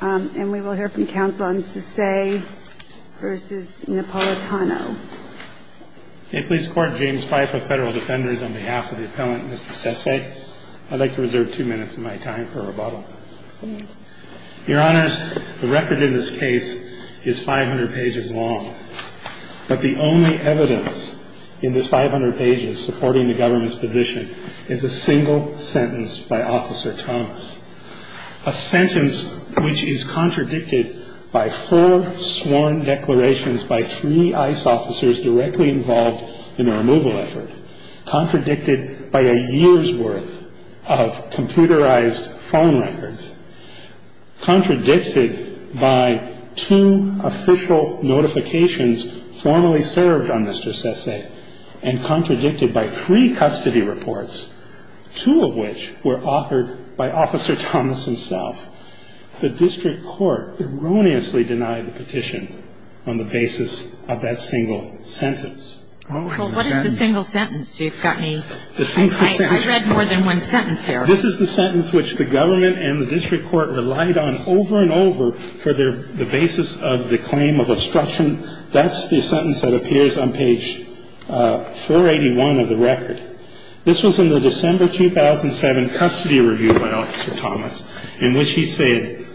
And we will hear from counsel on Sesay v. Napolitano. May it please the Court, James Fife of Federal Defenders, on behalf of the appellant, Mr. Sesay. I'd like to reserve two minutes of my time for rebuttal. Thank you. Your Honors, the record in this case is 500 pages long. But the only evidence in this 500 pages supporting the government's position is a single sentence by Officer Thomas. A sentence which is contradicted by four sworn declarations by three ICE officers directly involved in the removal effort, contradicted by a year's worth of computerized phone records, contradicted by two official notifications formally served on Mr. Sesay, and contradicted by three custody reports, two of which were authored by Officer Thomas himself. The district court erroneously denied the petition on the basis of that single sentence. Well, what is the single sentence? I read more than one sentence there. This is the sentence which the government and the district court relied on over and over for the basis of the claim of obstruction. That's the sentence that appears on page 481 of the record. This was in the December 2007 custody review by Officer Thomas, in which he said,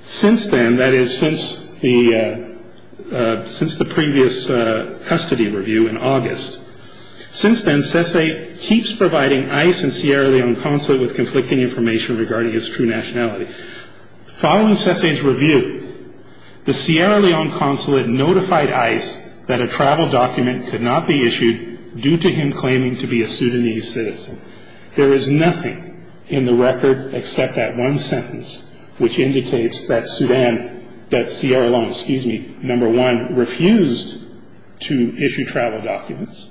since then, that is, since the previous custody review in August, since then Sesay keeps providing ICE and Sierra Leone Consulate with conflicting information regarding his true nationality. Following Sesay's review, the Sierra Leone Consulate notified ICE that a travel document could not be issued due to him claiming to be a Sudanese citizen. There is nothing in the record except that one sentence, which indicates that Sudan, that Sierra Leone, excuse me, number one, refused to issue travel documents,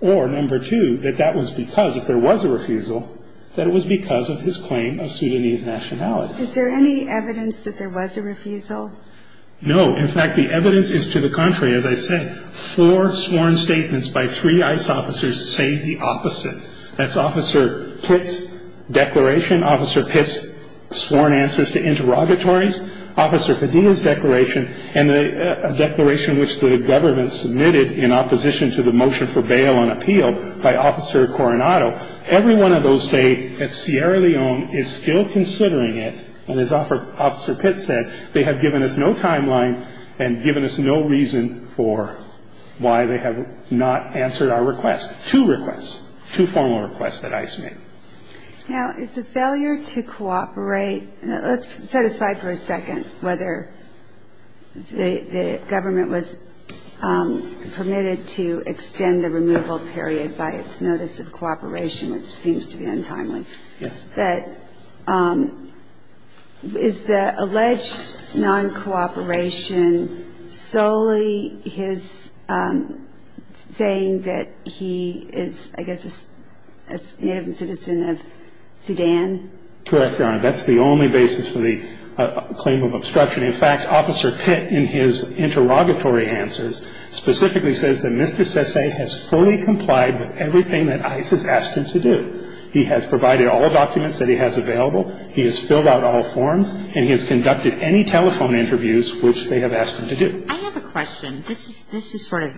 or number two, that that was because if there was a refusal, that it was because of his claim of Sudanese nationality. Is there any evidence that there was a refusal? No. In fact, the evidence is to the contrary. As I said, four sworn statements by three ICE officers say the opposite. That's Officer Pitt's declaration, Officer Pitt's sworn answers to interrogatories, Officer Padilla's declaration, and a declaration which the government submitted in opposition to the motion for bail on appeal by Officer Coronado. Every one of those say that Sierra Leone is still considering it, and as Officer Pitt said, they have given us no timeline and given us no reason for why they have not answered our request. Two requests, two formal requests that ICE made. Now, is the failure to cooperate, let's set aside for a second whether the government was permitted to extend the removal period by its notice of cooperation, which seems to be untimely. Yes. Is the alleged non-cooperation solely his saying that he is, I guess, a native citizen of Sudan? Correct, Your Honor. That's the only basis for the claim of obstruction. In fact, Officer Pitt, in his interrogatory answers, specifically says that Mr. Sesay has fully complied with everything that ICE has asked him to do. He has provided all documents that he has available, he has filled out all forms, and he has conducted any telephone interviews which they have asked him to do. I have a question. This is sort of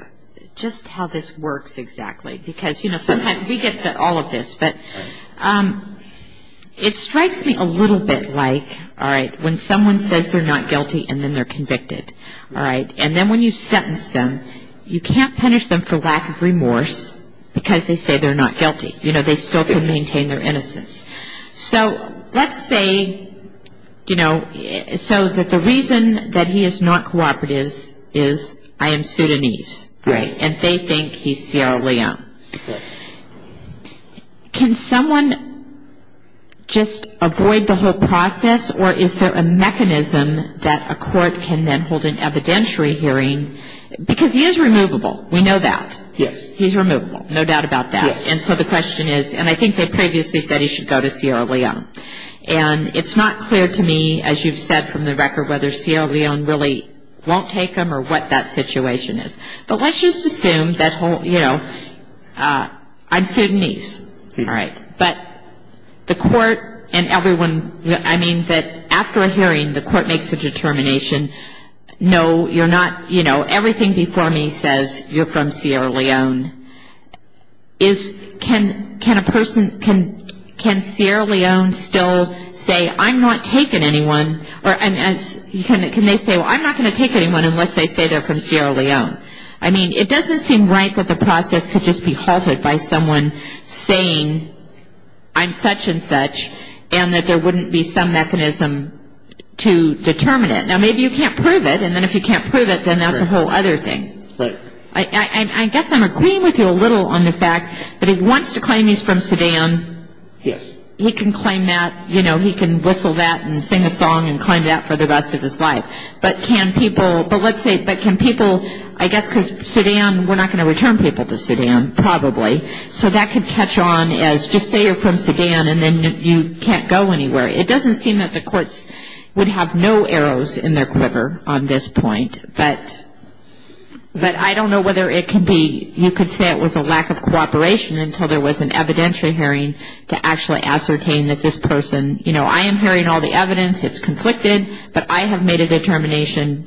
just how this works exactly because, you know, sometimes we get all of this. But it strikes me a little bit like, all right, when someone says they're not guilty and then they're convicted, all right, and then when you sentence them, you can't punish them for lack of remorse because they say they're not guilty. You know, they still can maintain their innocence. So let's say, you know, so that the reason that he is not cooperative is I am Sudanese. Right. And they think he's Sierra Leone. Correct. Can someone just avoid the whole process or is there a mechanism that a court can then hold an evidentiary hearing? Because he is removable. We know that. Yes. He's removable. No doubt about that. Yes. And so the question is, and I think they previously said he should go to Sierra Leone. And it's not clear to me, as you've said from the record, whether Sierra Leone really won't take him or what that situation is. But let's just assume that, you know, I'm Sudanese. All right. But the court and everyone, I mean, that after a hearing the court makes a determination, no, you're not, you know, everything before me says you're from Sierra Leone, is can a person, can Sierra Leone still say I'm not taking anyone or can they say, well, I'm not going to take anyone unless they say they're from Sierra Leone? I mean, it doesn't seem right that the process could just be halted by someone saying I'm such and such and that there wouldn't be some mechanism to determine it. Now, maybe you can't prove it. And then if you can't prove it, then that's a whole other thing. Right. I guess I'm agreeing with you a little on the fact that he wants to claim he's from Sudan. Yes. He can claim that, you know, he can whistle that and sing a song and claim that for the rest of his life. But can people, but let's say, but can people, I guess because Sudan, we're not going to return people to Sudan probably. So that could catch on as just say you're from Sudan and then you can't go anywhere. It doesn't seem that the courts would have no arrows in their quiver on this point. But I don't know whether it can be, you could say it was a lack of cooperation until there was an evidentiary hearing to actually ascertain that this person, you know, I am hearing all the evidence, it's conflicted, but I have made a determination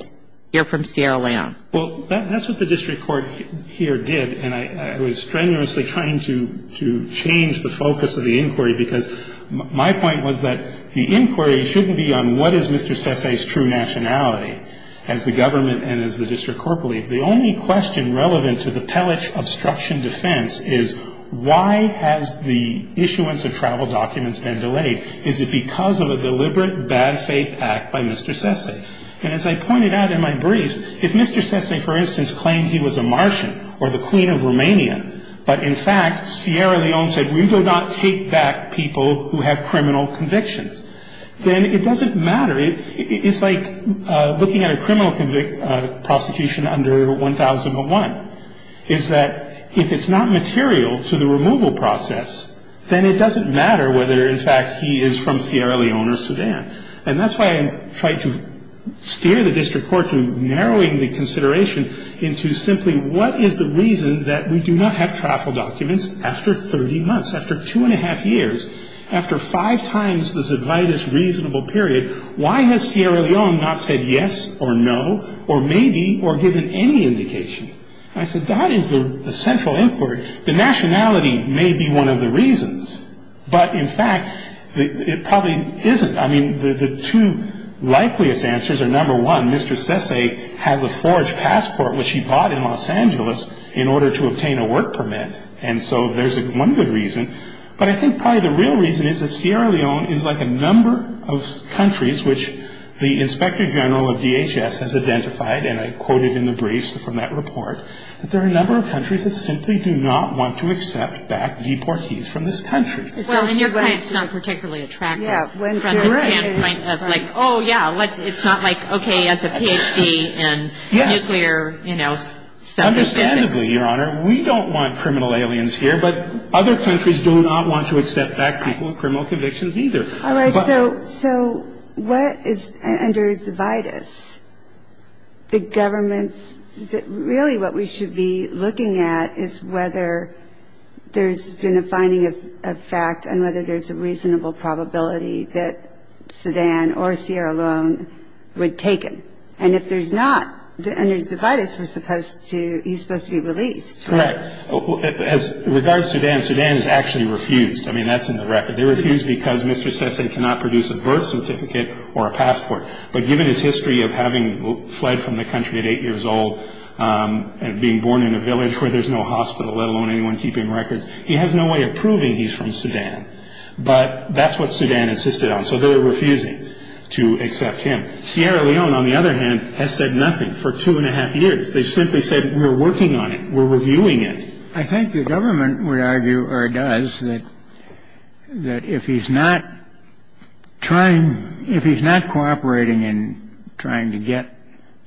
you're from Sierra Leone. Well, that's what the district court here did, and I was strenuously trying to change the focus of the inquiry because my point was that the inquiry shouldn't be on what is Mr. Sesay's true nationality as the government and as the district court believed. The only question relevant to the Pellich obstruction defense is why has the issuance of travel documents been delayed? Is it because of a deliberate bad faith act by Mr. Sesay? And as I pointed out in my briefs, if Mr. Sesay, for instance, claimed he was a Martian or the queen of Romania, but in fact Sierra Leone said we do not take back people who have criminal convictions, then it doesn't matter, it's like looking at a criminal prosecution under 1001, is that if it's not material to the removal process, then it doesn't matter whether in fact he is from Sierra Leone or Sudan. And that's why I tried to steer the district court to narrowing the consideration into simply what is the reason that we do not have travel documents after 30 months, after two and a half years, after five times the Zovitis reasonable period, why has Sierra Leone not said yes or no or maybe or given any indication? I said that is the central inquiry. The nationality may be one of the reasons, but in fact it probably isn't. I mean, the two likeliest answers are, number one, Mr. Sesay has a forged passport, which he bought in Los Angeles in order to obtain a work permit. And so there's one good reason. But I think probably the real reason is that Sierra Leone is like a number of countries, which the inspector general of DHS has identified, and I quoted in the briefs from that report, that there are a number of countries that simply do not want to accept back deportees from this country. Well, in your case it's not particularly attractive from the standpoint of like, oh, yeah, it's not like, okay, as a Ph.D. in nuclear, you know. Understandably, Your Honor, we don't want criminal aliens here, but other countries do not want to accept back people with criminal convictions either. All right. So what is under Zovitis? The government's really what we should be looking at is whether there's been a finding of fact and whether there's a reasonable probability that Sudan or Sierra Leone would take him. And if there's not, under Zovitis, he's supposed to be released. Correct. As regards Sudan, Sudan has actually refused. I mean, that's in the record. They refused because Mr. Sesay cannot produce a birth certificate or a passport. But given his history of having fled from the country at 8 years old and being born in a village where there's no hospital, let alone anyone keeping records, he has no way of proving he's from Sudan. But that's what Sudan insisted on. So they're refusing to accept him. Sierra Leone, on the other hand, has said nothing for two and a half years. They've simply said, we're working on it. We're reviewing it. I think the government would argue or does that if he's not trying, if he's not cooperating in trying to get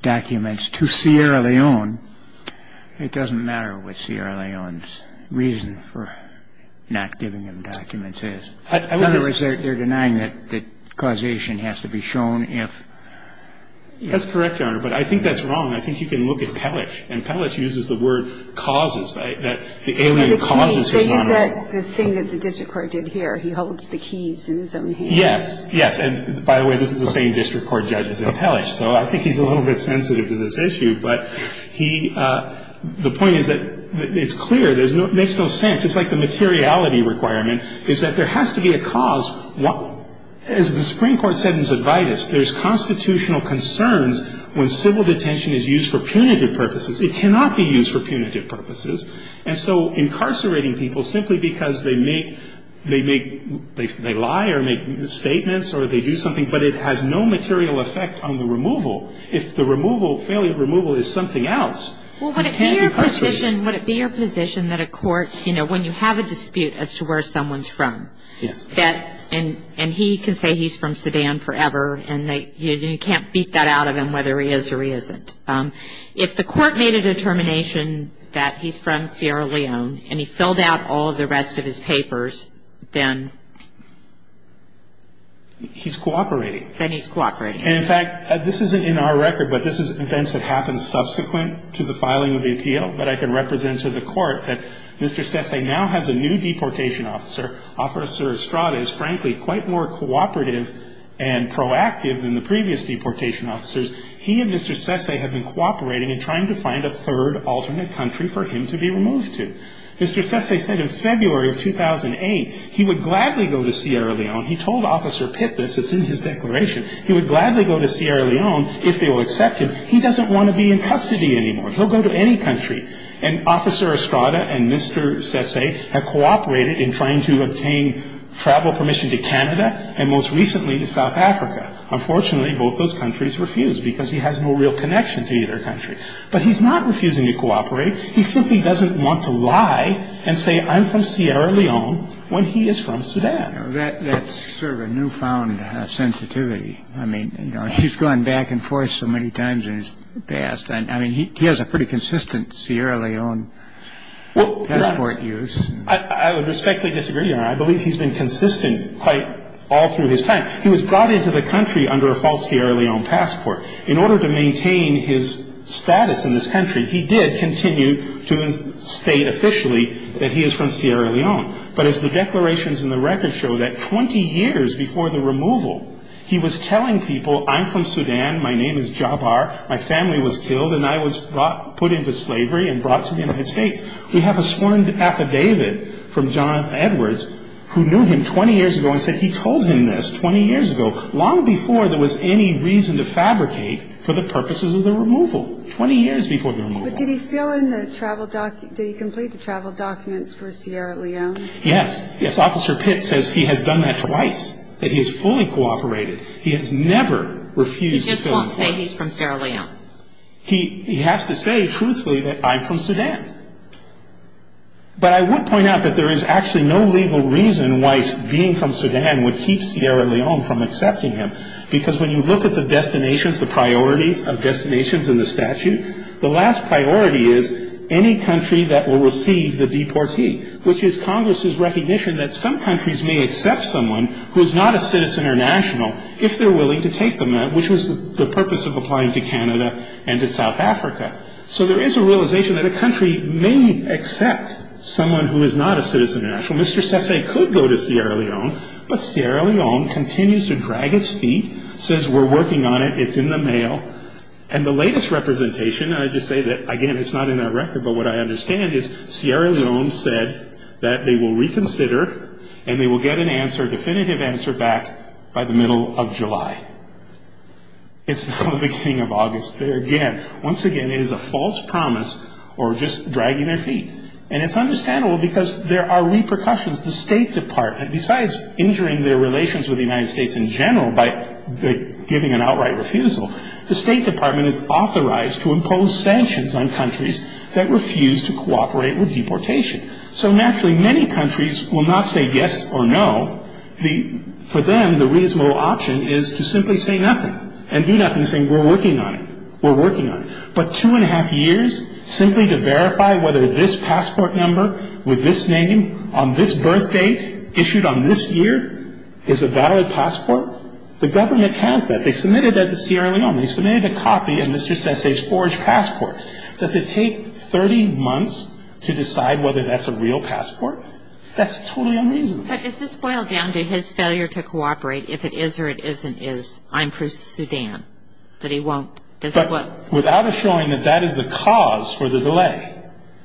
documents to Sierra Leone, it doesn't matter what Sierra Leone's reason for not giving him documents is. In other words, they're denying that causation has to be shown if. That's correct, Your Honor. But I think that's wrong. I think you can look at Pellish. And Pellish uses the word causes. The alien causes his honor. So he said the thing that the district court did here. He holds the keys in his own hands. Yes. Yes. And, by the way, this is the same district court judge as in Pellish. So I think he's a little bit sensitive to this issue. But the point is that it's clear. It makes no sense. It's like the materiality requirement is that there has to be a cause. As the Supreme Court said in Zadvidus, there's constitutional concerns when civil detention is used for punitive purposes. It cannot be used for punitive purposes. And so incarcerating people simply because they lie or make statements or they do something, but it has no material effect on the removal. If the removal, failure of removal, is something else, you can't incarcerate. Well, would it be your position that a court, you know, when you have a dispute as to where someone's from, and he can say he's from Sudan forever, and you can't beat that out of him whether he is or he isn't, if the court made a determination that he's from Sierra Leone and he filled out all of the rest of his papers, then? He's cooperating. Then he's cooperating. And, in fact, this isn't in our record, but this is events that happened subsequent to the filing of the appeal that I can represent to the court that Mr. Sesay now has a new deportation officer. Officer Estrada is, frankly, quite more cooperative and proactive than the previous deportation officers. He and Mr. Sesay have been cooperating and trying to find a third alternate country for him to be removed to. Mr. Sesay said in February of 2008 he would gladly go to Sierra Leone. He told Officer Pitt this. It's in his declaration. He would gladly go to Sierra Leone if they will accept him. He doesn't want to be in custody anymore. He'll go to any country. And Officer Estrada and Mr. Sesay have cooperated in trying to obtain travel permission to Canada and, most recently, to South Africa. Unfortunately, both those countries refused because he has no real connection to either country. But he's not refusing to cooperate. He simply doesn't want to lie and say I'm from Sierra Leone when he is from Sudan. That's sort of a newfound sensitivity. I mean, you know, he's gone back and forth so many times in his past. I mean, he has a pretty consistent Sierra Leone passport use. I would respectfully disagree. I believe he's been consistent quite all through his time. He was brought into the country under a false Sierra Leone passport. In order to maintain his status in this country, he did continue to state officially that he is from Sierra Leone. But as the declarations in the records show, that 20 years before the removal, he was telling people I'm from Sudan, my name is Jabar, my family was killed, and I was put into slavery and brought to the United States. We have a sworn affidavit from John Edwards who knew him 20 years ago and said he told him this 20 years ago, long before there was any reason to fabricate for the purposes of the removal, 20 years before the removal. But did he fill in the travel document? Did he complete the travel documents for Sierra Leone? Yes. Yes. Officer Pitts says he has done that twice, that he has fully cooperated. He has never refused to fill in the documents. He just won't say he's from Sierra Leone. He has to say truthfully that I'm from Sudan. But I would point out that there is actually no legal reason why being from Sudan would keep Sierra Leone from accepting him, because when you look at the destinations, the priorities of destinations in the statute, the last priority is any country that will receive the deportee, which is Congress's recognition that some countries may accept someone who is not a citizen or national if they're willing to take them, which was the purpose of applying to Canada and to South Africa. So there is a realization that a country may accept someone who is not a citizen or national. Mr. Sesay could go to Sierra Leone, but Sierra Leone continues to drag its feet, says we're working on it, it's in the mail, and the latest representation, and I just say that, again, it's not in that record, but what I understand is Sierra Leone said that they will reconsider and they will get an answer, a definitive answer back by the middle of July. It's not the beginning of August. Again, once again, it is a false promise or just dragging their feet. And it's understandable because there are repercussions. The State Department, besides injuring their relations with the United States in general by giving an outright refusal, the State Department is authorized to impose sanctions on countries that refuse to cooperate with deportation. So naturally, many countries will not say yes or no. For them, the reasonable option is to simply say nothing and do nothing, saying we're working on it, we're working on it. But two and a half years simply to verify whether this passport number with this name on this birth date issued on this year is a valid passport, the government has that. They submitted that to Sierra Leone. They submitted a copy of Mr. Sese's forged passport. Does it take 30 months to decide whether that's a real passport? That's totally unreasonable. But does this boil down to his failure to cooperate if it is or it isn't his? I'm for Sudan, that he won't. But without a showing that that is the cause for the delay,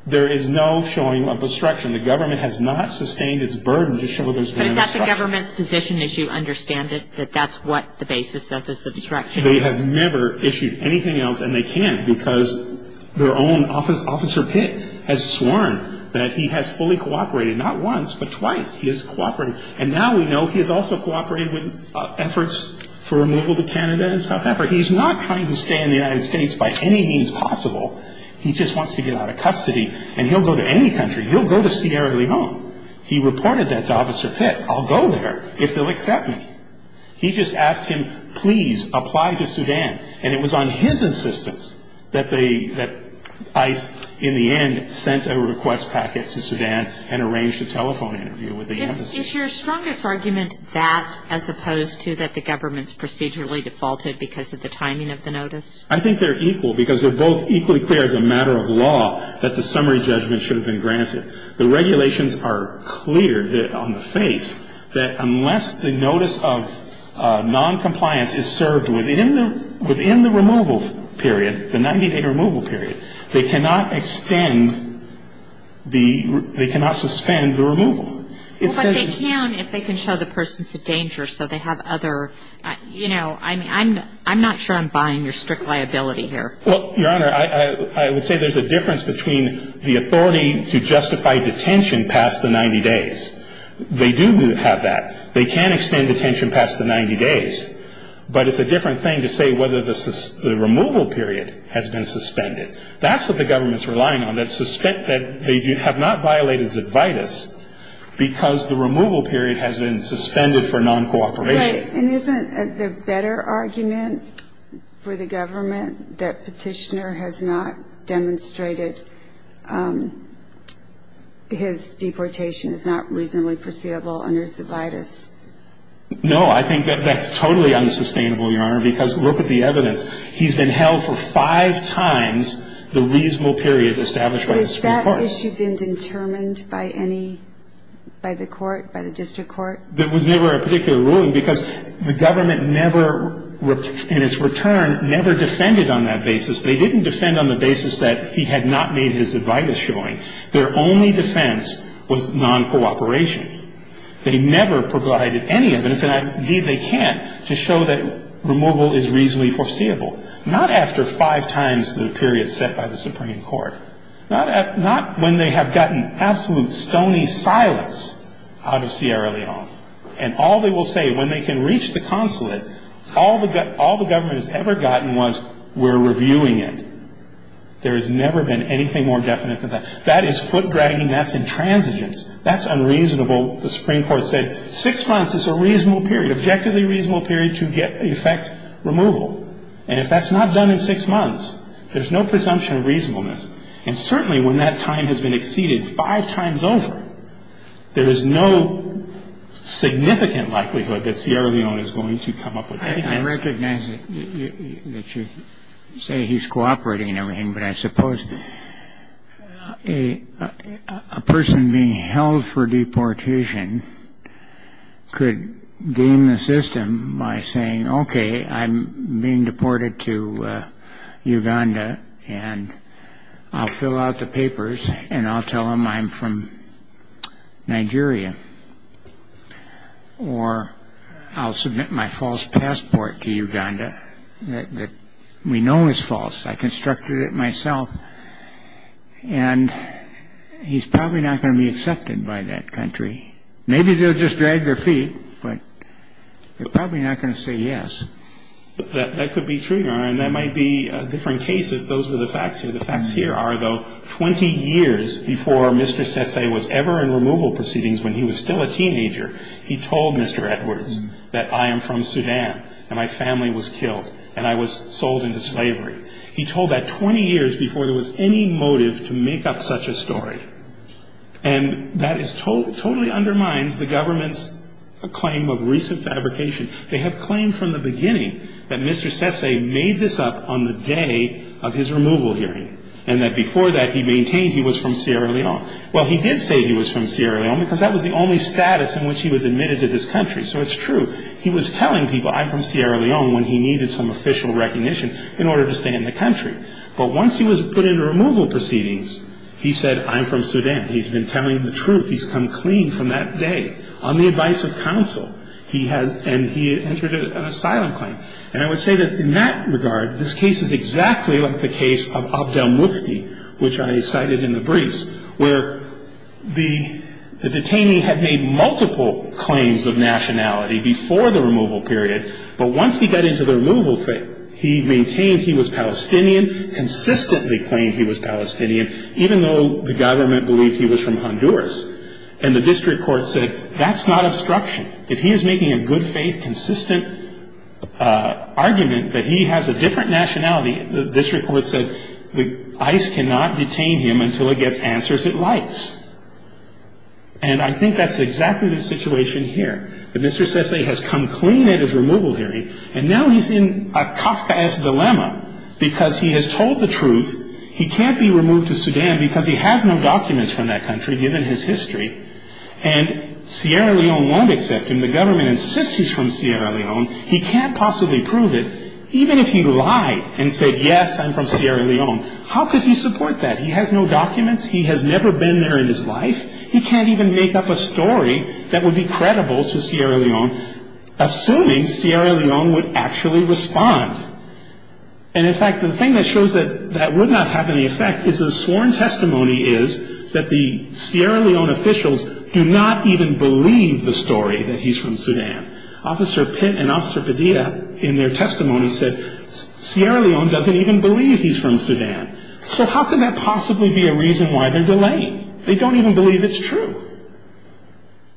there is no showing of obstruction. The government has not sustained its burden to show there's been an obstruction. But is that the government's position, as you understand it, that that's what the basis of this obstruction is? They have never issued anything else, and they can't because their own officer Pitt has sworn that he has fully cooperated, not once but twice he has cooperated. And now we know he has also cooperated with efforts for removal to Canada and South Africa. He's not trying to stay in the United States by any means possible. He just wants to get out of custody, and he'll go to any country. He'll go to Sierra Leone. He reported that to Officer Pitt. I'll go there if they'll accept me. He just asked him, please, apply to Sudan. And it was on his insistence that ICE in the end sent a request packet to Sudan and arranged a telephone interview with the embassy. Is your strongest argument that as opposed to that the government's procedurally defaulted because of the timing of the notice? I think they're equal because they're both equally clear as a matter of law that the summary judgment should have been granted. The regulations are clear on the face that unless the notice of noncompliance is served within the removal period, the 98-day removal period, they cannot extend the ‑‑ they cannot suspend the removal. Well, but they can if they can show the person's a danger so they have other, you know, I'm not sure I'm buying your strict liability here. Well, Your Honor, I would say there's a difference between the authority to justify detention past the 90 days. They do have that. They can extend detention past the 90 days. But it's a different thing to say whether the removal period has been suspended. That's what the government's relying on, that they have not violated ad vitis because the removal period has been suspended for noncooperation. Right. And isn't the better argument for the government that Petitioner has not demonstrated his deportation is not reasonably foreseeable under ad vitis? No, I think that that's totally unsustainable, Your Honor, because look at the evidence. He's been held for five times the reasonable period established by the Supreme Court. Has that issue been determined by any ‑‑ by the court, by the district court? There was never a particular ruling because the government never, in its return, never defended on that basis. They didn't defend on the basis that he had not made his ad vitis showing. Their only defense was noncooperation. They never provided any evidence, and indeed they can't, to show that removal is reasonably foreseeable. Not after five times the period set by the Supreme Court. Not when they have gotten absolute stony silence out of Sierra Leone. And all they will say when they can reach the consulate, all the government has ever gotten was we're reviewing it. There has never been anything more definite than that. That is foot-dragging. That's intransigence. That's unreasonable. The Supreme Court said six months is a reasonable period, objectively reasonable period to get effect removal. And if that's not done in six months, there's no presumption of reasonableness. And certainly when that time has been exceeded five times over, there is no significant likelihood that Sierra Leone is going to come up with evidence. I recognize that you say he's cooperating and everything, but I suppose a person being held for deportation could game the system by saying, okay, I'm being deported to Uganda, and I'll fill out the papers, and I'll tell them I'm from Nigeria. Or I'll submit my false passport to Uganda that we know is false. I constructed it myself. And he's probably not going to be accepted by that country. Maybe they'll just drag their feet, but they're probably not going to say yes. That could be true, Your Honor, and that might be a different case if those were the facts here. The facts here are, though, 20 years before Mr. Sesay was ever in removal proceedings when he was still a teenager, he told Mr. Edwards that I am from Sudan, and my family was killed, and I was sold into slavery. He told that 20 years before there was any motive to make up such a story. And that totally undermines the government's claim of recent fabrication. They have claimed from the beginning that Mr. Sesay made this up on the day of his removal hearing, and that before that he maintained he was from Sierra Leone. Well, he did say he was from Sierra Leone because that was the only status in which he was admitted to this country. So it's true. He was telling people, I'm from Sierra Leone, when he needed some official recognition in order to stay in the country. But once he was put into removal proceedings, he said, I'm from Sudan. He's been telling the truth. He's come clean from that day. On the advice of counsel, he has entered an asylum claim. And I would say that in that regard, this case is exactly like the case of Abdel Mufti, which I cited in the briefs, where the detainee had made multiple claims of nationality before the removal period, but once he got into the removal thing, he maintained he was Palestinian, consistently claimed he was Palestinian, even though the government believed he was from Honduras. And the district court said, that's not obstruction. If he is making a good-faith, consistent argument that he has a different nationality, the district court said ICE cannot detain him until it gets answers it likes. And I think that's exactly the situation here. The Mr. Sesay has come clean at his removal hearing, and now he's in a Kafkaesque dilemma because he has told the truth. He can't be removed to Sudan because he has no documents from that country, given his history. And Sierra Leone won't accept him. The government insists he's from Sierra Leone. He can't possibly prove it, even if he lied and said, yes, I'm from Sierra Leone. How could he support that? He has no documents. He has never been there in his life. He can't even make up a story that would be credible to Sierra Leone, assuming Sierra Leone would actually respond. And, in fact, the thing that shows that that would not have any effect is the sworn testimony is that the Sierra Leone officials do not even believe the story that he's from Sudan. Officer Pitt and Officer Padilla, in their testimony, said Sierra Leone doesn't even believe he's from Sudan. So how can that possibly be a reason why they're delaying? They don't even believe it's true.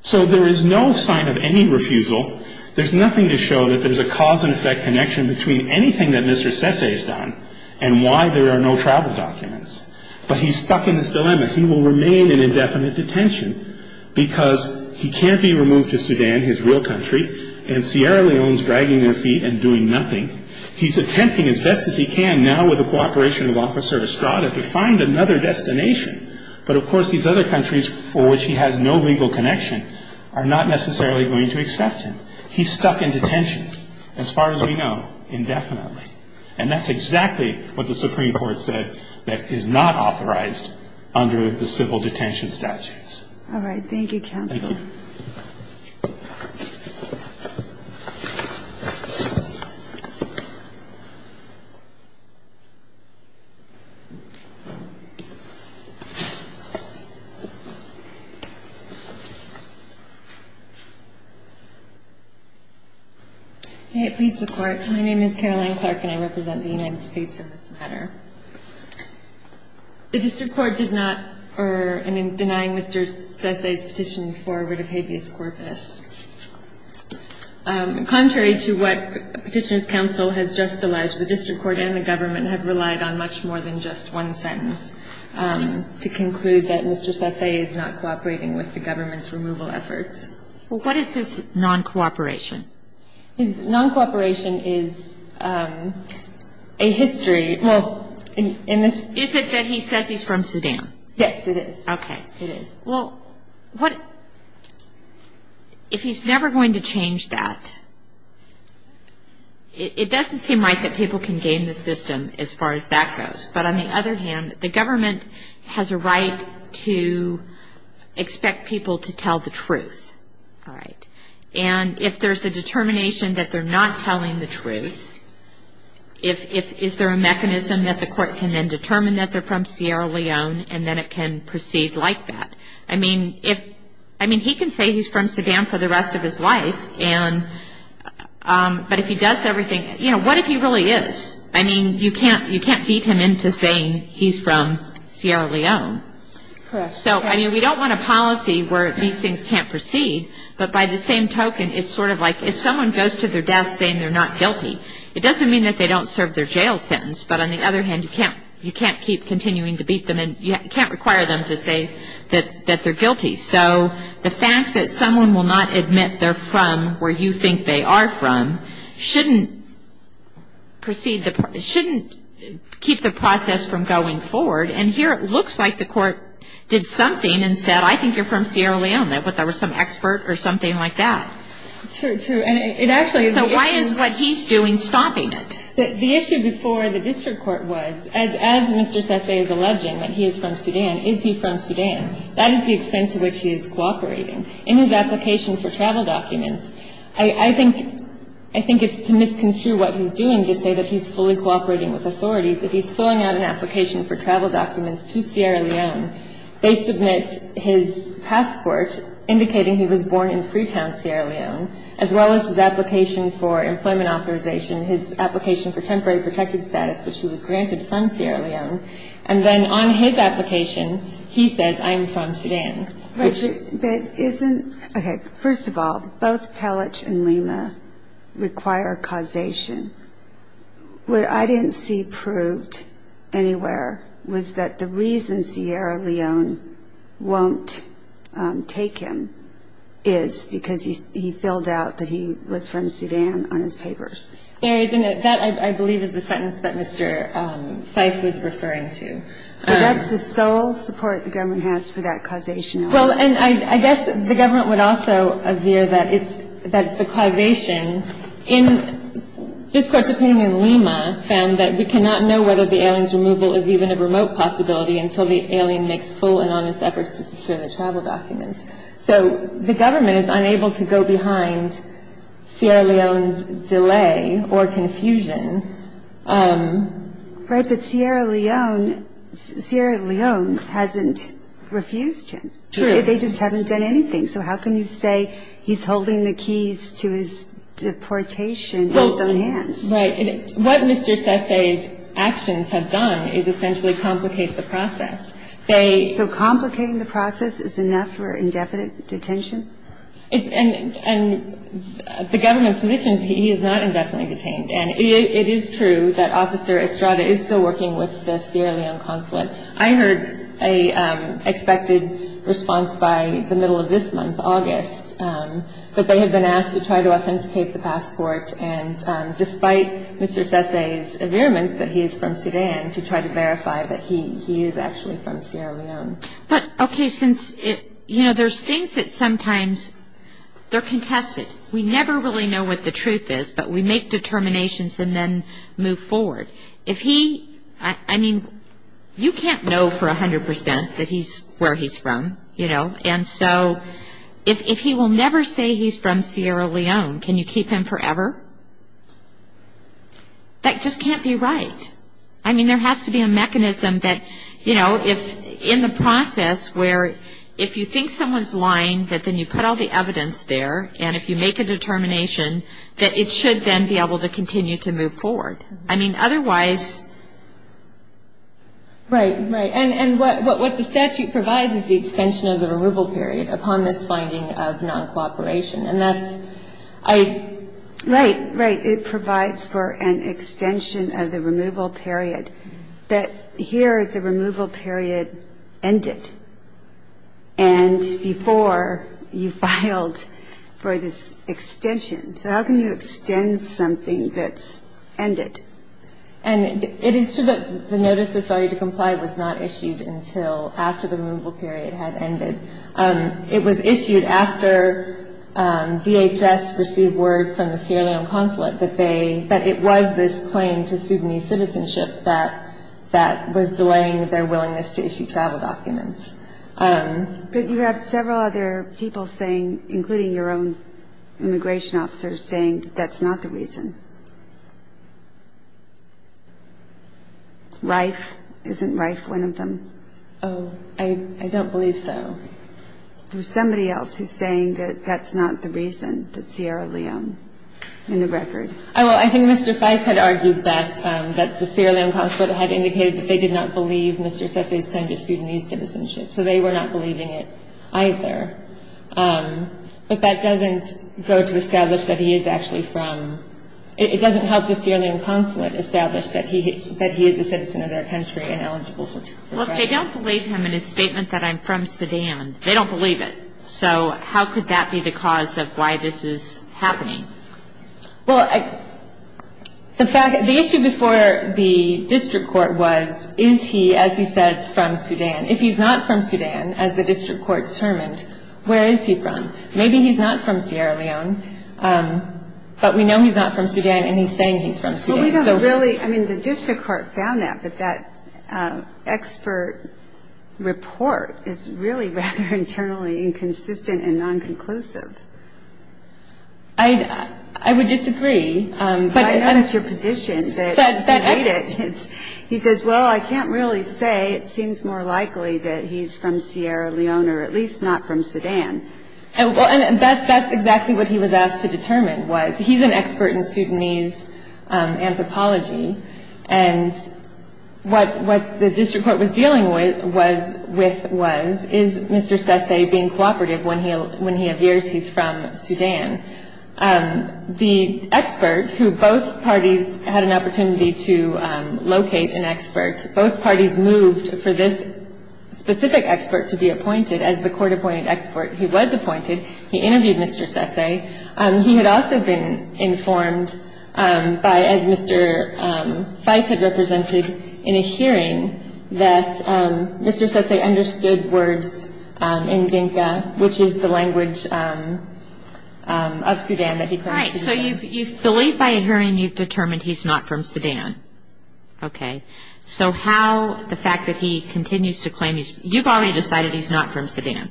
So there is no sign of any refusal. There's nothing to show that there's a cause-and-effect connection between anything that Mr. Sesay's done and why there are no travel documents. But he's stuck in this dilemma. He will remain in indefinite detention because he can't be removed to Sudan, his real country, and Sierra Leone's dragging their feet and doing nothing. He's attempting as best as he can, now with the cooperation of Officer Estrada, to find another destination. But, of course, these other countries for which he has no legal connection are not necessarily going to accept him. He's stuck in detention, as far as we know, indefinitely. And that's exactly what the Supreme Court said that is not authorized under the civil detention statutes. All right. Thank you, Counsel. Thank you. May it please the Court. My name is Caroline Clark, and I represent the United States in this matter. The district court did not, or in denying Mr. Sesay's petition for writ of habeas corpus. Contrary to what Petitioner's Counsel has just alleged, the district court and the government have relied on much more than just one sentence to conclude that Mr. Sesay is not cooperating with the government's removal efforts. Well, what is his non-cooperation? His non-cooperation is a history. Is it that he says he's from Sudan? Yes, it is. Okay. It is. Well, if he's never going to change that, it doesn't seem right that people can game the system as far as that goes. But, on the other hand, the government has a right to expect people to tell the truth. All right. And if there's a determination that they're not telling the truth, is there a mechanism that the court can then determine that they're from Sierra Leone, and then it can proceed like that? I mean, he can say he's from Sudan for the rest of his life, but if he does everything, you know, what if he really is? I mean, you can't beat him into saying he's from Sierra Leone. Correct. So, I mean, we don't want a policy where these things can't proceed. But, by the same token, it's sort of like if someone goes to their death saying they're not guilty, it doesn't mean that they don't serve their jail sentence. But, on the other hand, you can't keep continuing to beat them, and you can't require them to say that they're guilty. So the fact that someone will not admit they're from where you think they are from shouldn't keep the process from going forward. And here it looks like the court did something and said, I think you're from Sierra Leone, but there was some expert or something like that. True. And it actually is the issue. So why is what he's doing stopping it? The issue before the district court was, as Mr. Sese is alleging that he is from Sudan, is he from Sudan? That is the extent to which he is cooperating. In his application for travel documents, I think it's to misconstrue what he's doing to say that he's fully cooperating with authorities. If he's filling out an application for travel documents to Sierra Leone, they submit his passport indicating he was born in Freetown, Sierra Leone, as well as his application for employment authorization, his application for temporary protected status, which he was granted from Sierra Leone. And then on his application, he says, I am from Sudan. First of all, both Pelich and Lima require causation. What I didn't see proved anywhere was that the reason Sierra Leone won't take him is because he filled out that he was from Sudan on his papers. That, I believe, is the sentence that Mr. Fife was referring to. So that's the sole support the government has for that causation. Well, and I guess the government would also veer that it's the causation. This Court's opinion in Lima found that we cannot know whether the alien's removal is even a remote possibility until the alien makes full and honest efforts to secure the travel documents. So the government is unable to go behind Sierra Leone's delay or confusion. Right. But Sierra Leone hasn't refused him. True. They just haven't done anything. So how can you say he's holding the keys to his deportation in his own hands? Right. What Mr. Sesay's actions have done is essentially complicate the process. So complicating the process is enough for indefinite detention? And the government's position is he is not indefinitely detained. And it is true that Officer Estrada is still working with the Sierra Leone consulate. I heard an expected response by the middle of this month, August, that they have been asked to try to authenticate the passport, and despite Mr. Sesay's affirmation that he is from Sudan, to try to verify that he is actually from Sierra Leone. But, okay, since, you know, there's things that sometimes they're contested. We never really know what the truth is, but we make determinations and then move forward. If he, I mean, you can't know for 100% that he's where he's from, you know. And so if he will never say he's from Sierra Leone, can you keep him forever? That just can't be right. I mean, there has to be a mechanism that, you know, if in the process where if you think someone's lying, that then you put all the evidence there, and if you make a determination, that it should then be able to continue to move forward. I mean, otherwise. Right, right. And what the statute provides is the extension of the removal period upon this finding of non-cooperation. And that's, I. Right, right. It provides for an extension of the removal period. But here the removal period ended. And before you filed for this extension. So how can you extend something that's ended? And it is true that the notice that started to comply was not issued until after the removal period had ended. It was issued after DHS received word from the Sierra Leone Consulate that they, that it was this claim to Sudanese citizenship that was delaying their willingness to issue travel documents. But you have several other people saying, including your own immigration officers, saying that that's not the reason. Reif, isn't Reif one of them? Oh, I don't believe so. There's somebody else who's saying that that's not the reason, that Sierra Leone, in the record. Well, I think Mr. Fyfe had argued that the Sierra Leone Consulate had indicated that they did not believe Mr. Sesay's claim to Sudanese citizenship. So they were not believing it either. But that doesn't go to establish that he is actually from. It doesn't help the Sierra Leone Consulate establish that he is a citizen of their country and eligible for travel. Well, they don't believe him in his statement that I'm from Sudan. They don't believe it. So how could that be the cause of why this is happening? Well, the issue before the district court was, is he, as he says, from Sudan? If he's not from Sudan, as the district court determined, where is he from? Maybe he's not from Sierra Leone, but we know he's not from Sudan and he's saying he's from Sudan. Well, we don't really – I mean, the district court found that, but that expert report is really rather internally inconsistent and non-conclusive. I would disagree. I know it's your position that you hate it. He says, well, I can't really say. It seems more likely that he's from Sierra Leone or at least not from Sudan. And that's exactly what he was asked to determine was. He's an expert in Sudanese anthropology. And what the district court was dealing with was, is Mr. Sesay being cooperative when he appears he's from Sudan? The expert, who both parties had an opportunity to locate an expert, both parties moved for this specific expert to be appointed. As the court appointed expert, he was appointed. He interviewed Mr. Sesay. He had also been informed by, as Mr. Fyfe had represented in a hearing, that Mr. Sesay understood words in Dinka, which is the language of Sudan that he claims to be from. Right. So you've believed by a hearing you've determined he's not from Sudan. Okay. So how the fact that he continues to claim he's – you've already decided he's not from Sudan.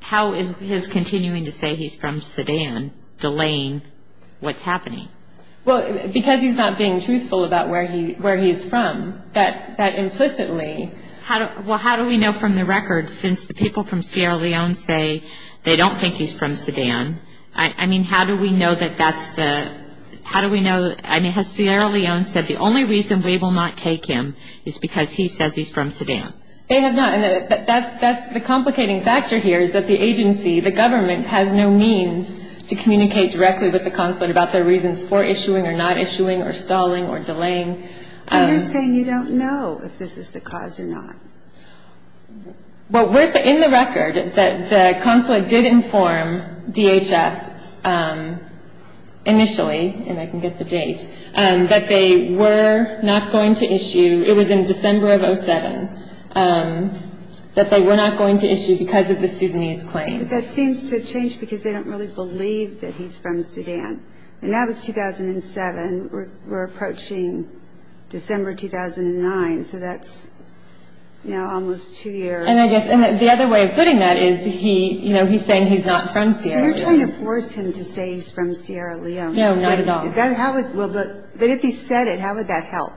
How is his continuing to say he's from Sudan delaying what's happening? Well, because he's not being truthful about where he is from, that implicitly – Well, how do we know from the record since the people from Sierra Leone say they don't think he's from Sudan? I mean, how do we know that that's the – how do we know – I mean, has Sierra Leone said the only reason we will not take him is because he says he's from Sudan? They have not. And that's the complicating factor here is that the agency, the government, has no means to communicate directly with the consulate about their reasons for issuing or not issuing or stalling or delaying. So you're saying you don't know if this is the cause or not? Well, we're – in the record, the consulate did inform DHS initially, and I can get the date, that they were not going to issue – it was in December of 07 – that they were not going to issue because of the Sudanese claim. But that seems to have changed because they don't really believe that he's from Sudan. And that was 2007. We're approaching December 2009, so that's now almost two years. And I guess – and the other way of putting that is he – you know, he's saying he's not from Sierra Leone. So you're trying to force him to say he's from Sierra Leone. No, not at all. How would – well, but if he said it, how would that help?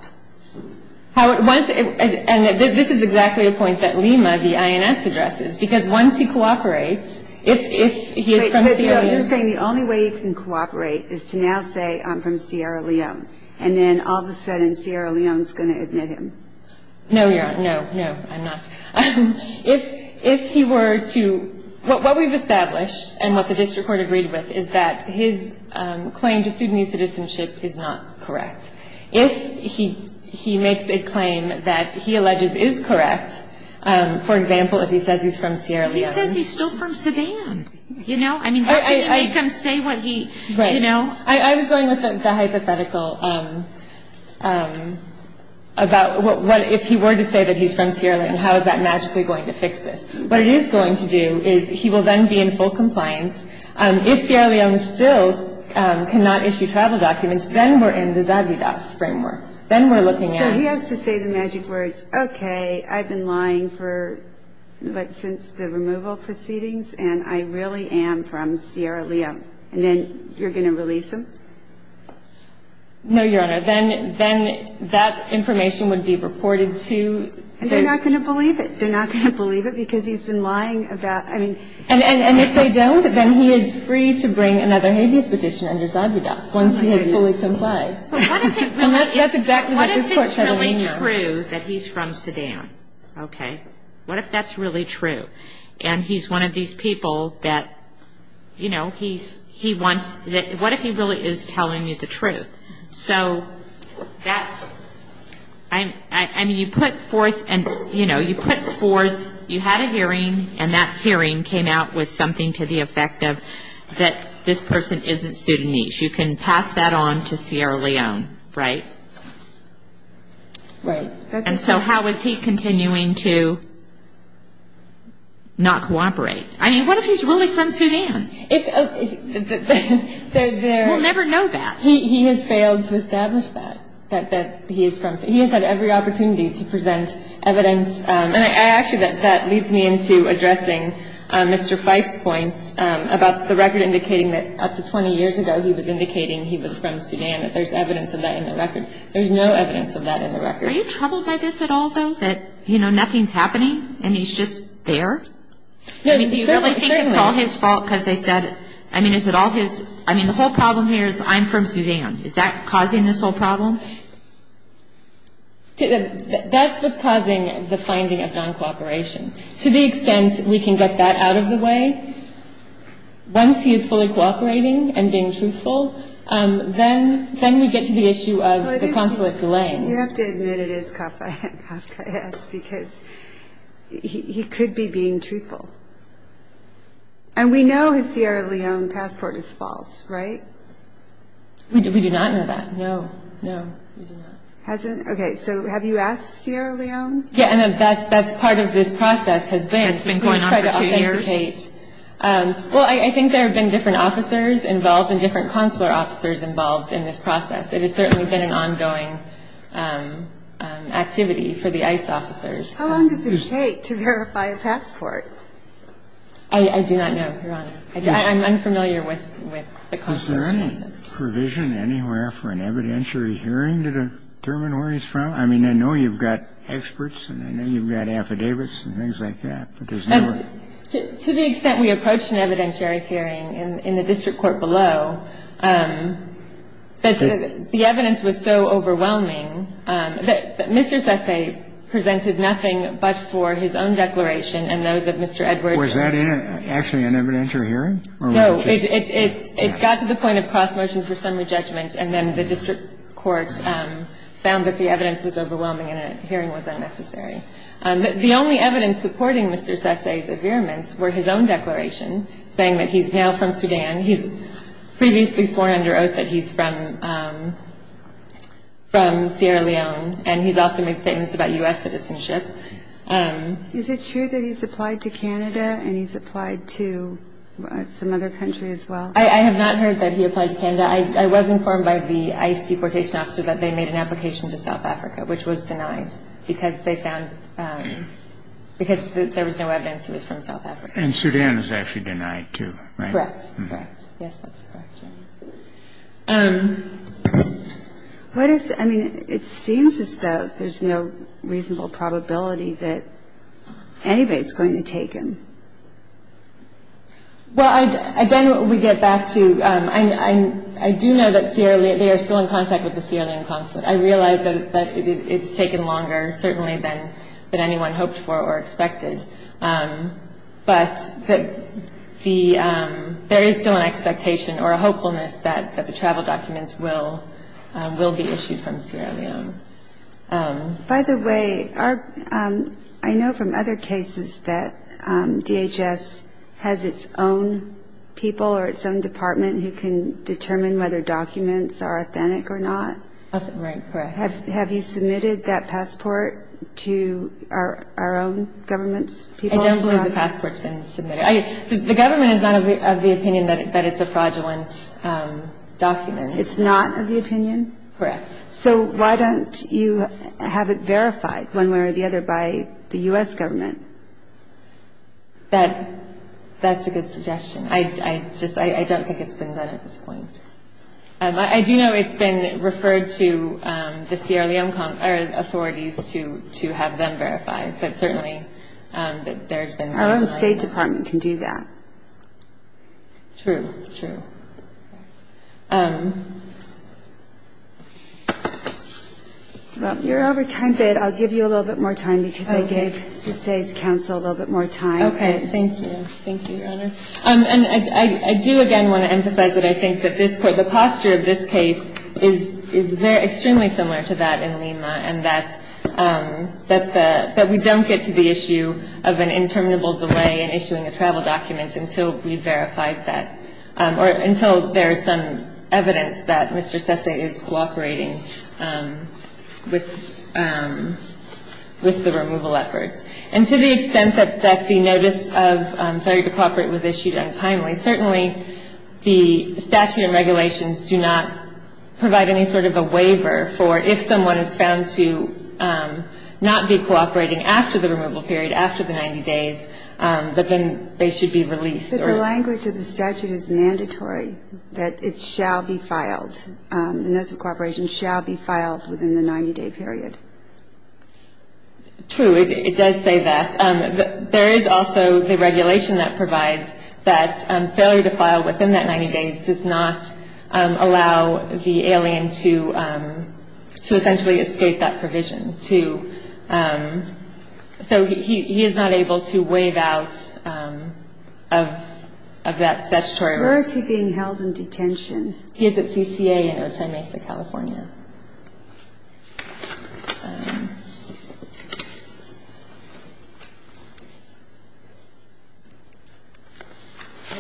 How would – once – and this is exactly the point that Lima, the INS, addresses, because once he cooperates, if he is from Sierra Leone – But you're saying the only way he can cooperate is to now say, I'm from Sierra Leone, and then all of a sudden Sierra Leone is going to admit him. No, Your Honor, no, no, I'm not. If he were to – what we've established and what the district court agreed with is that his claim to Sudanese citizenship is not correct. If he makes a claim that he alleges is correct, for example, if he says he's from Sierra Leone – He says he's still from Sudan. You know, I mean, how can you make him say what he – you know? Right. I was going with the hypothetical about what – if he were to say that he's from Sierra Leone, how is that magically going to fix this? What it is going to do is he will then be in full compliance. If Sierra Leone still cannot issue travel documents, then we're in the Zagidas framework. Then we're looking at – So he has to say the magic words, okay, I've been lying for, what, since the removal proceedings, and I really am from Sierra Leone, and then you're going to release him? No, Your Honor. Then that information would be reported to – And they're not going to believe it. They're not going to believe it because he's been lying about – I mean – And if they don't, then he is free to bring another habeas petition under Zagidas once he has fully complied. And that's exactly what this Court said earlier. What if it's really true that he's from Sudan, okay? What if that's really true? And he's one of these people that, you know, he wants – what if he really is telling you the truth? So that's – I mean, you put forth and, you know, you put forth – You had a hearing, and that hearing came out with something to the effect of that this person isn't Sudanese. You can pass that on to Sierra Leone, right? Right. And so how is he continuing to not cooperate? I mean, what if he's really from Sudan? We'll never know that. He has failed to establish that, that he is from – he has had every opportunity to present evidence. And I actually – that leads me into addressing Mr. Fife's points about the record indicating that up to 20 years ago, he was indicating he was from Sudan, that there's evidence of that in the record. There's no evidence of that in the record. Are you troubled by this at all, though, that, you know, nothing's happening and he's just there? I mean, do you really think it's all his fault because they said – I mean, is it all his – I mean, the whole problem here is I'm from Sudan. Is that causing this whole problem? That's what's causing the finding of non-cooperation. To the extent we can get that out of the way, once he is fully cooperating and being truthful, then we get to the issue of the consulate delay. You have to admit it is Kafka, yes, because he could be being truthful. And we know his Sierra Leone passport is false, right? We do not know that. No, no, we do not. Hasn't – okay, so have you asked Sierra Leone? Yeah, and that's part of this process has been to try to authenticate. Has it been going on for two years? Well, I think there have been different officers involved and different consular officers involved in this process. It has certainly been an ongoing activity for the ICE officers. How long does it take to verify a passport? I do not know, Your Honor. I'm unfamiliar with the consular process. Well, is there any provision anywhere for an evidentiary hearing to determine where he's from? I mean, I know you've got experts and I know you've got affidavits and things like that, but there's no – To the extent we approached an evidentiary hearing in the district court below, the evidence was so overwhelming that Mr. Sessay presented nothing but for his own declaration and those of Mr. Edwards. Was that actually an evidentiary hearing? No. It got to the point of cross-motion for summary judgment and then the district court found that the evidence was overwhelming and a hearing was unnecessary. The only evidence supporting Mr. Sessay's affirmance were his own declaration saying that he's now from Sudan. He's previously sworn under oath that he's from Sierra Leone and he's also made statements about U.S. citizenship. Is it true that he's applied to Canada and he's applied to some other country as well? I have not heard that he applied to Canada. I was informed by the ICE deportation officer that they made an application to South Africa, which was denied because they found – because there was no evidence he was from South Africa. And Sudan is actually denied, too, right? Correct. Correct. Yes, that's correct. What if – I mean, it seems as though there's no reasonable probability that anybody's going to take him. Well, again, we get back to – I do know that Sierra Leone – they are still in contact with the Sierra Leone consulate. I realize that it's taken longer, certainly, than anyone hoped for or expected. But there is still an expectation or a hopefulness that the travel documents will be issued from Sierra Leone. By the way, I know from other cases that DHS has its own people or its own department who can determine whether documents are authentic or not. Right, correct. Have you submitted that passport to our own government's people? I don't believe the passport's been submitted. The government is not of the opinion that it's a fraudulent document. It's not of the opinion? Correct. So why don't you have it verified one way or the other by the U.S. government? That's a good suggestion. I just – I don't think it's been done at this point. I do know it's been referred to the Sierra Leone authorities to have them verify, but certainly there's been no – Our own State Department can do that. True, true. Well, you're over time, but I'll give you a little bit more time because I gave CSA's counsel a little bit more time. Okay, thank you. Thank you, Your Honor. And I do, again, want to emphasize that I think that this – the posture of this case is extremely similar to that in Lima, and that we don't get to the issue of an interminable delay in issuing a travel document until we've verified that or until there is some evidence that Mr. Sesay is cooperating with the removal efforts. And to the extent that the notice of failure to cooperate was issued untimely, certainly the statute and regulations do not provide any sort of a waiver for if someone is found to not be cooperating after the removal period, after the 90 days, that then they should be released. But the language of the statute is mandatory that it shall be filed. The notice of cooperation shall be filed within the 90-day period. True, it does say that. There is also the regulation that provides that failure to file within that 90 days does not allow the alien to essentially escape that provision. So he is not able to waive out of that statutory right. Where is he being held in detention? He is at CCA in Otemesa, California. How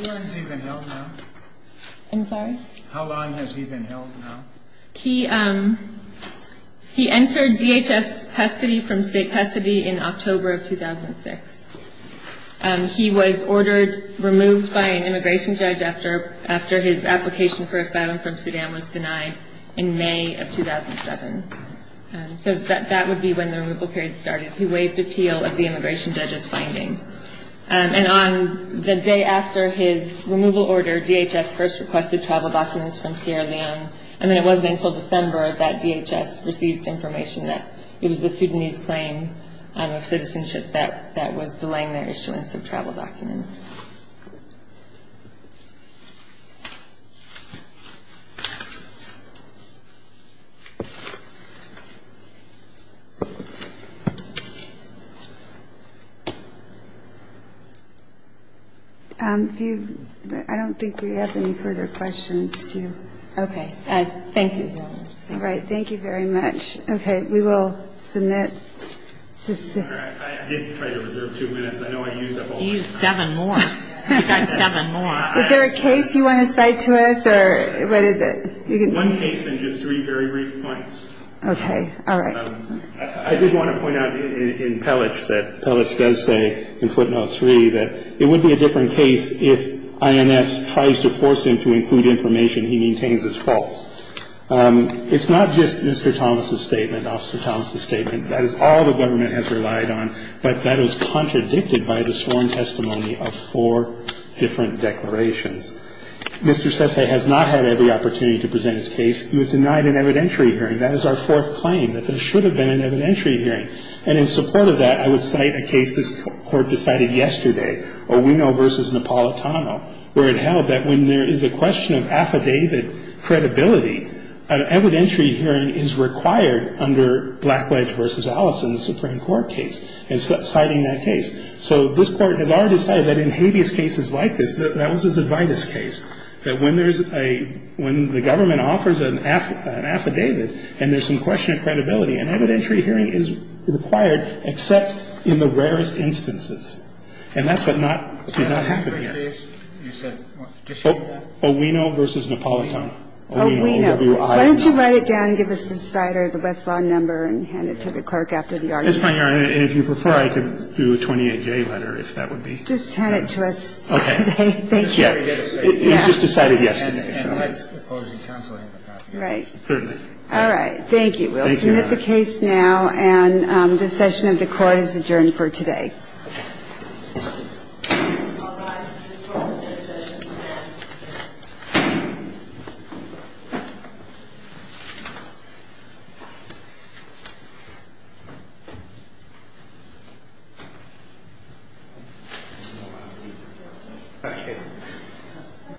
long has he been held now? I'm sorry? How long has he been held now? He entered DHS custody in October of 2006. He was ordered removed by an immigration judge after his application for asylum from Sudan was denied in May of 2007. So that would be when the removal period started. He waived appeal of the immigration judge's finding. And on the day after his removal order, DHS first requested travel documents from Sierra Leone. I mean, it wasn't until December that DHS received information that it was the Sudanese claim of citizenship that was delaying their issuance of travel documents. I don't think we have any further questions. Okay. Thank you. All right. Thank you very much. Okay. We will submit. I did try to reserve two minutes. I know I used up all my time. You used seven more. You got seven more. Is there a case you want to cite to us, or what is it? One case and just three very brief points. Okay. All right. I did want to point out in Pellich that Pellich does say in footnote 3 that it would be a different case if INS tries to force him to include information he maintains as false. It's not just Mr. Thomas' statement, Officer Thomas' statement. That is all the government has relied on, but that is contradicted by the sworn testimony of four different declarations. Mr. Sesay has not had every opportunity to present his case. He was denied an evidentiary hearing. That is our fourth claim, that there should have been an evidentiary hearing. And in support of that, I would cite a case this Court decided yesterday, Owino v. Napolitano, where it held that when there is a question of affidavit credibility, an evidentiary hearing is required under Blackledge v. Allison, the Supreme Court case, and citing that case. So this Court has already decided that in habeas cases like this, that was his advidas case, that when the government offers an affidavit and there's some question of credibility, an evidentiary hearing is required except in the rarest instances. And that's what did not happen here. I don't have any other questions. So I'll just close the case. You said what? Owino v. Napolitano. Owino. Why don't you write it down and give us the site or the westlaw number and hand it to the clerk after the argument? Yes, My Honor. If you prefer, I could do a 28-J letter, if that would be. Just hand it to us today. Thank you. He's just decided yesterday. And that's proposing counseling. Right. Certainly. All right. Thank you. We'll submit the case now, and the session of the Court is adjourned for today. Okay.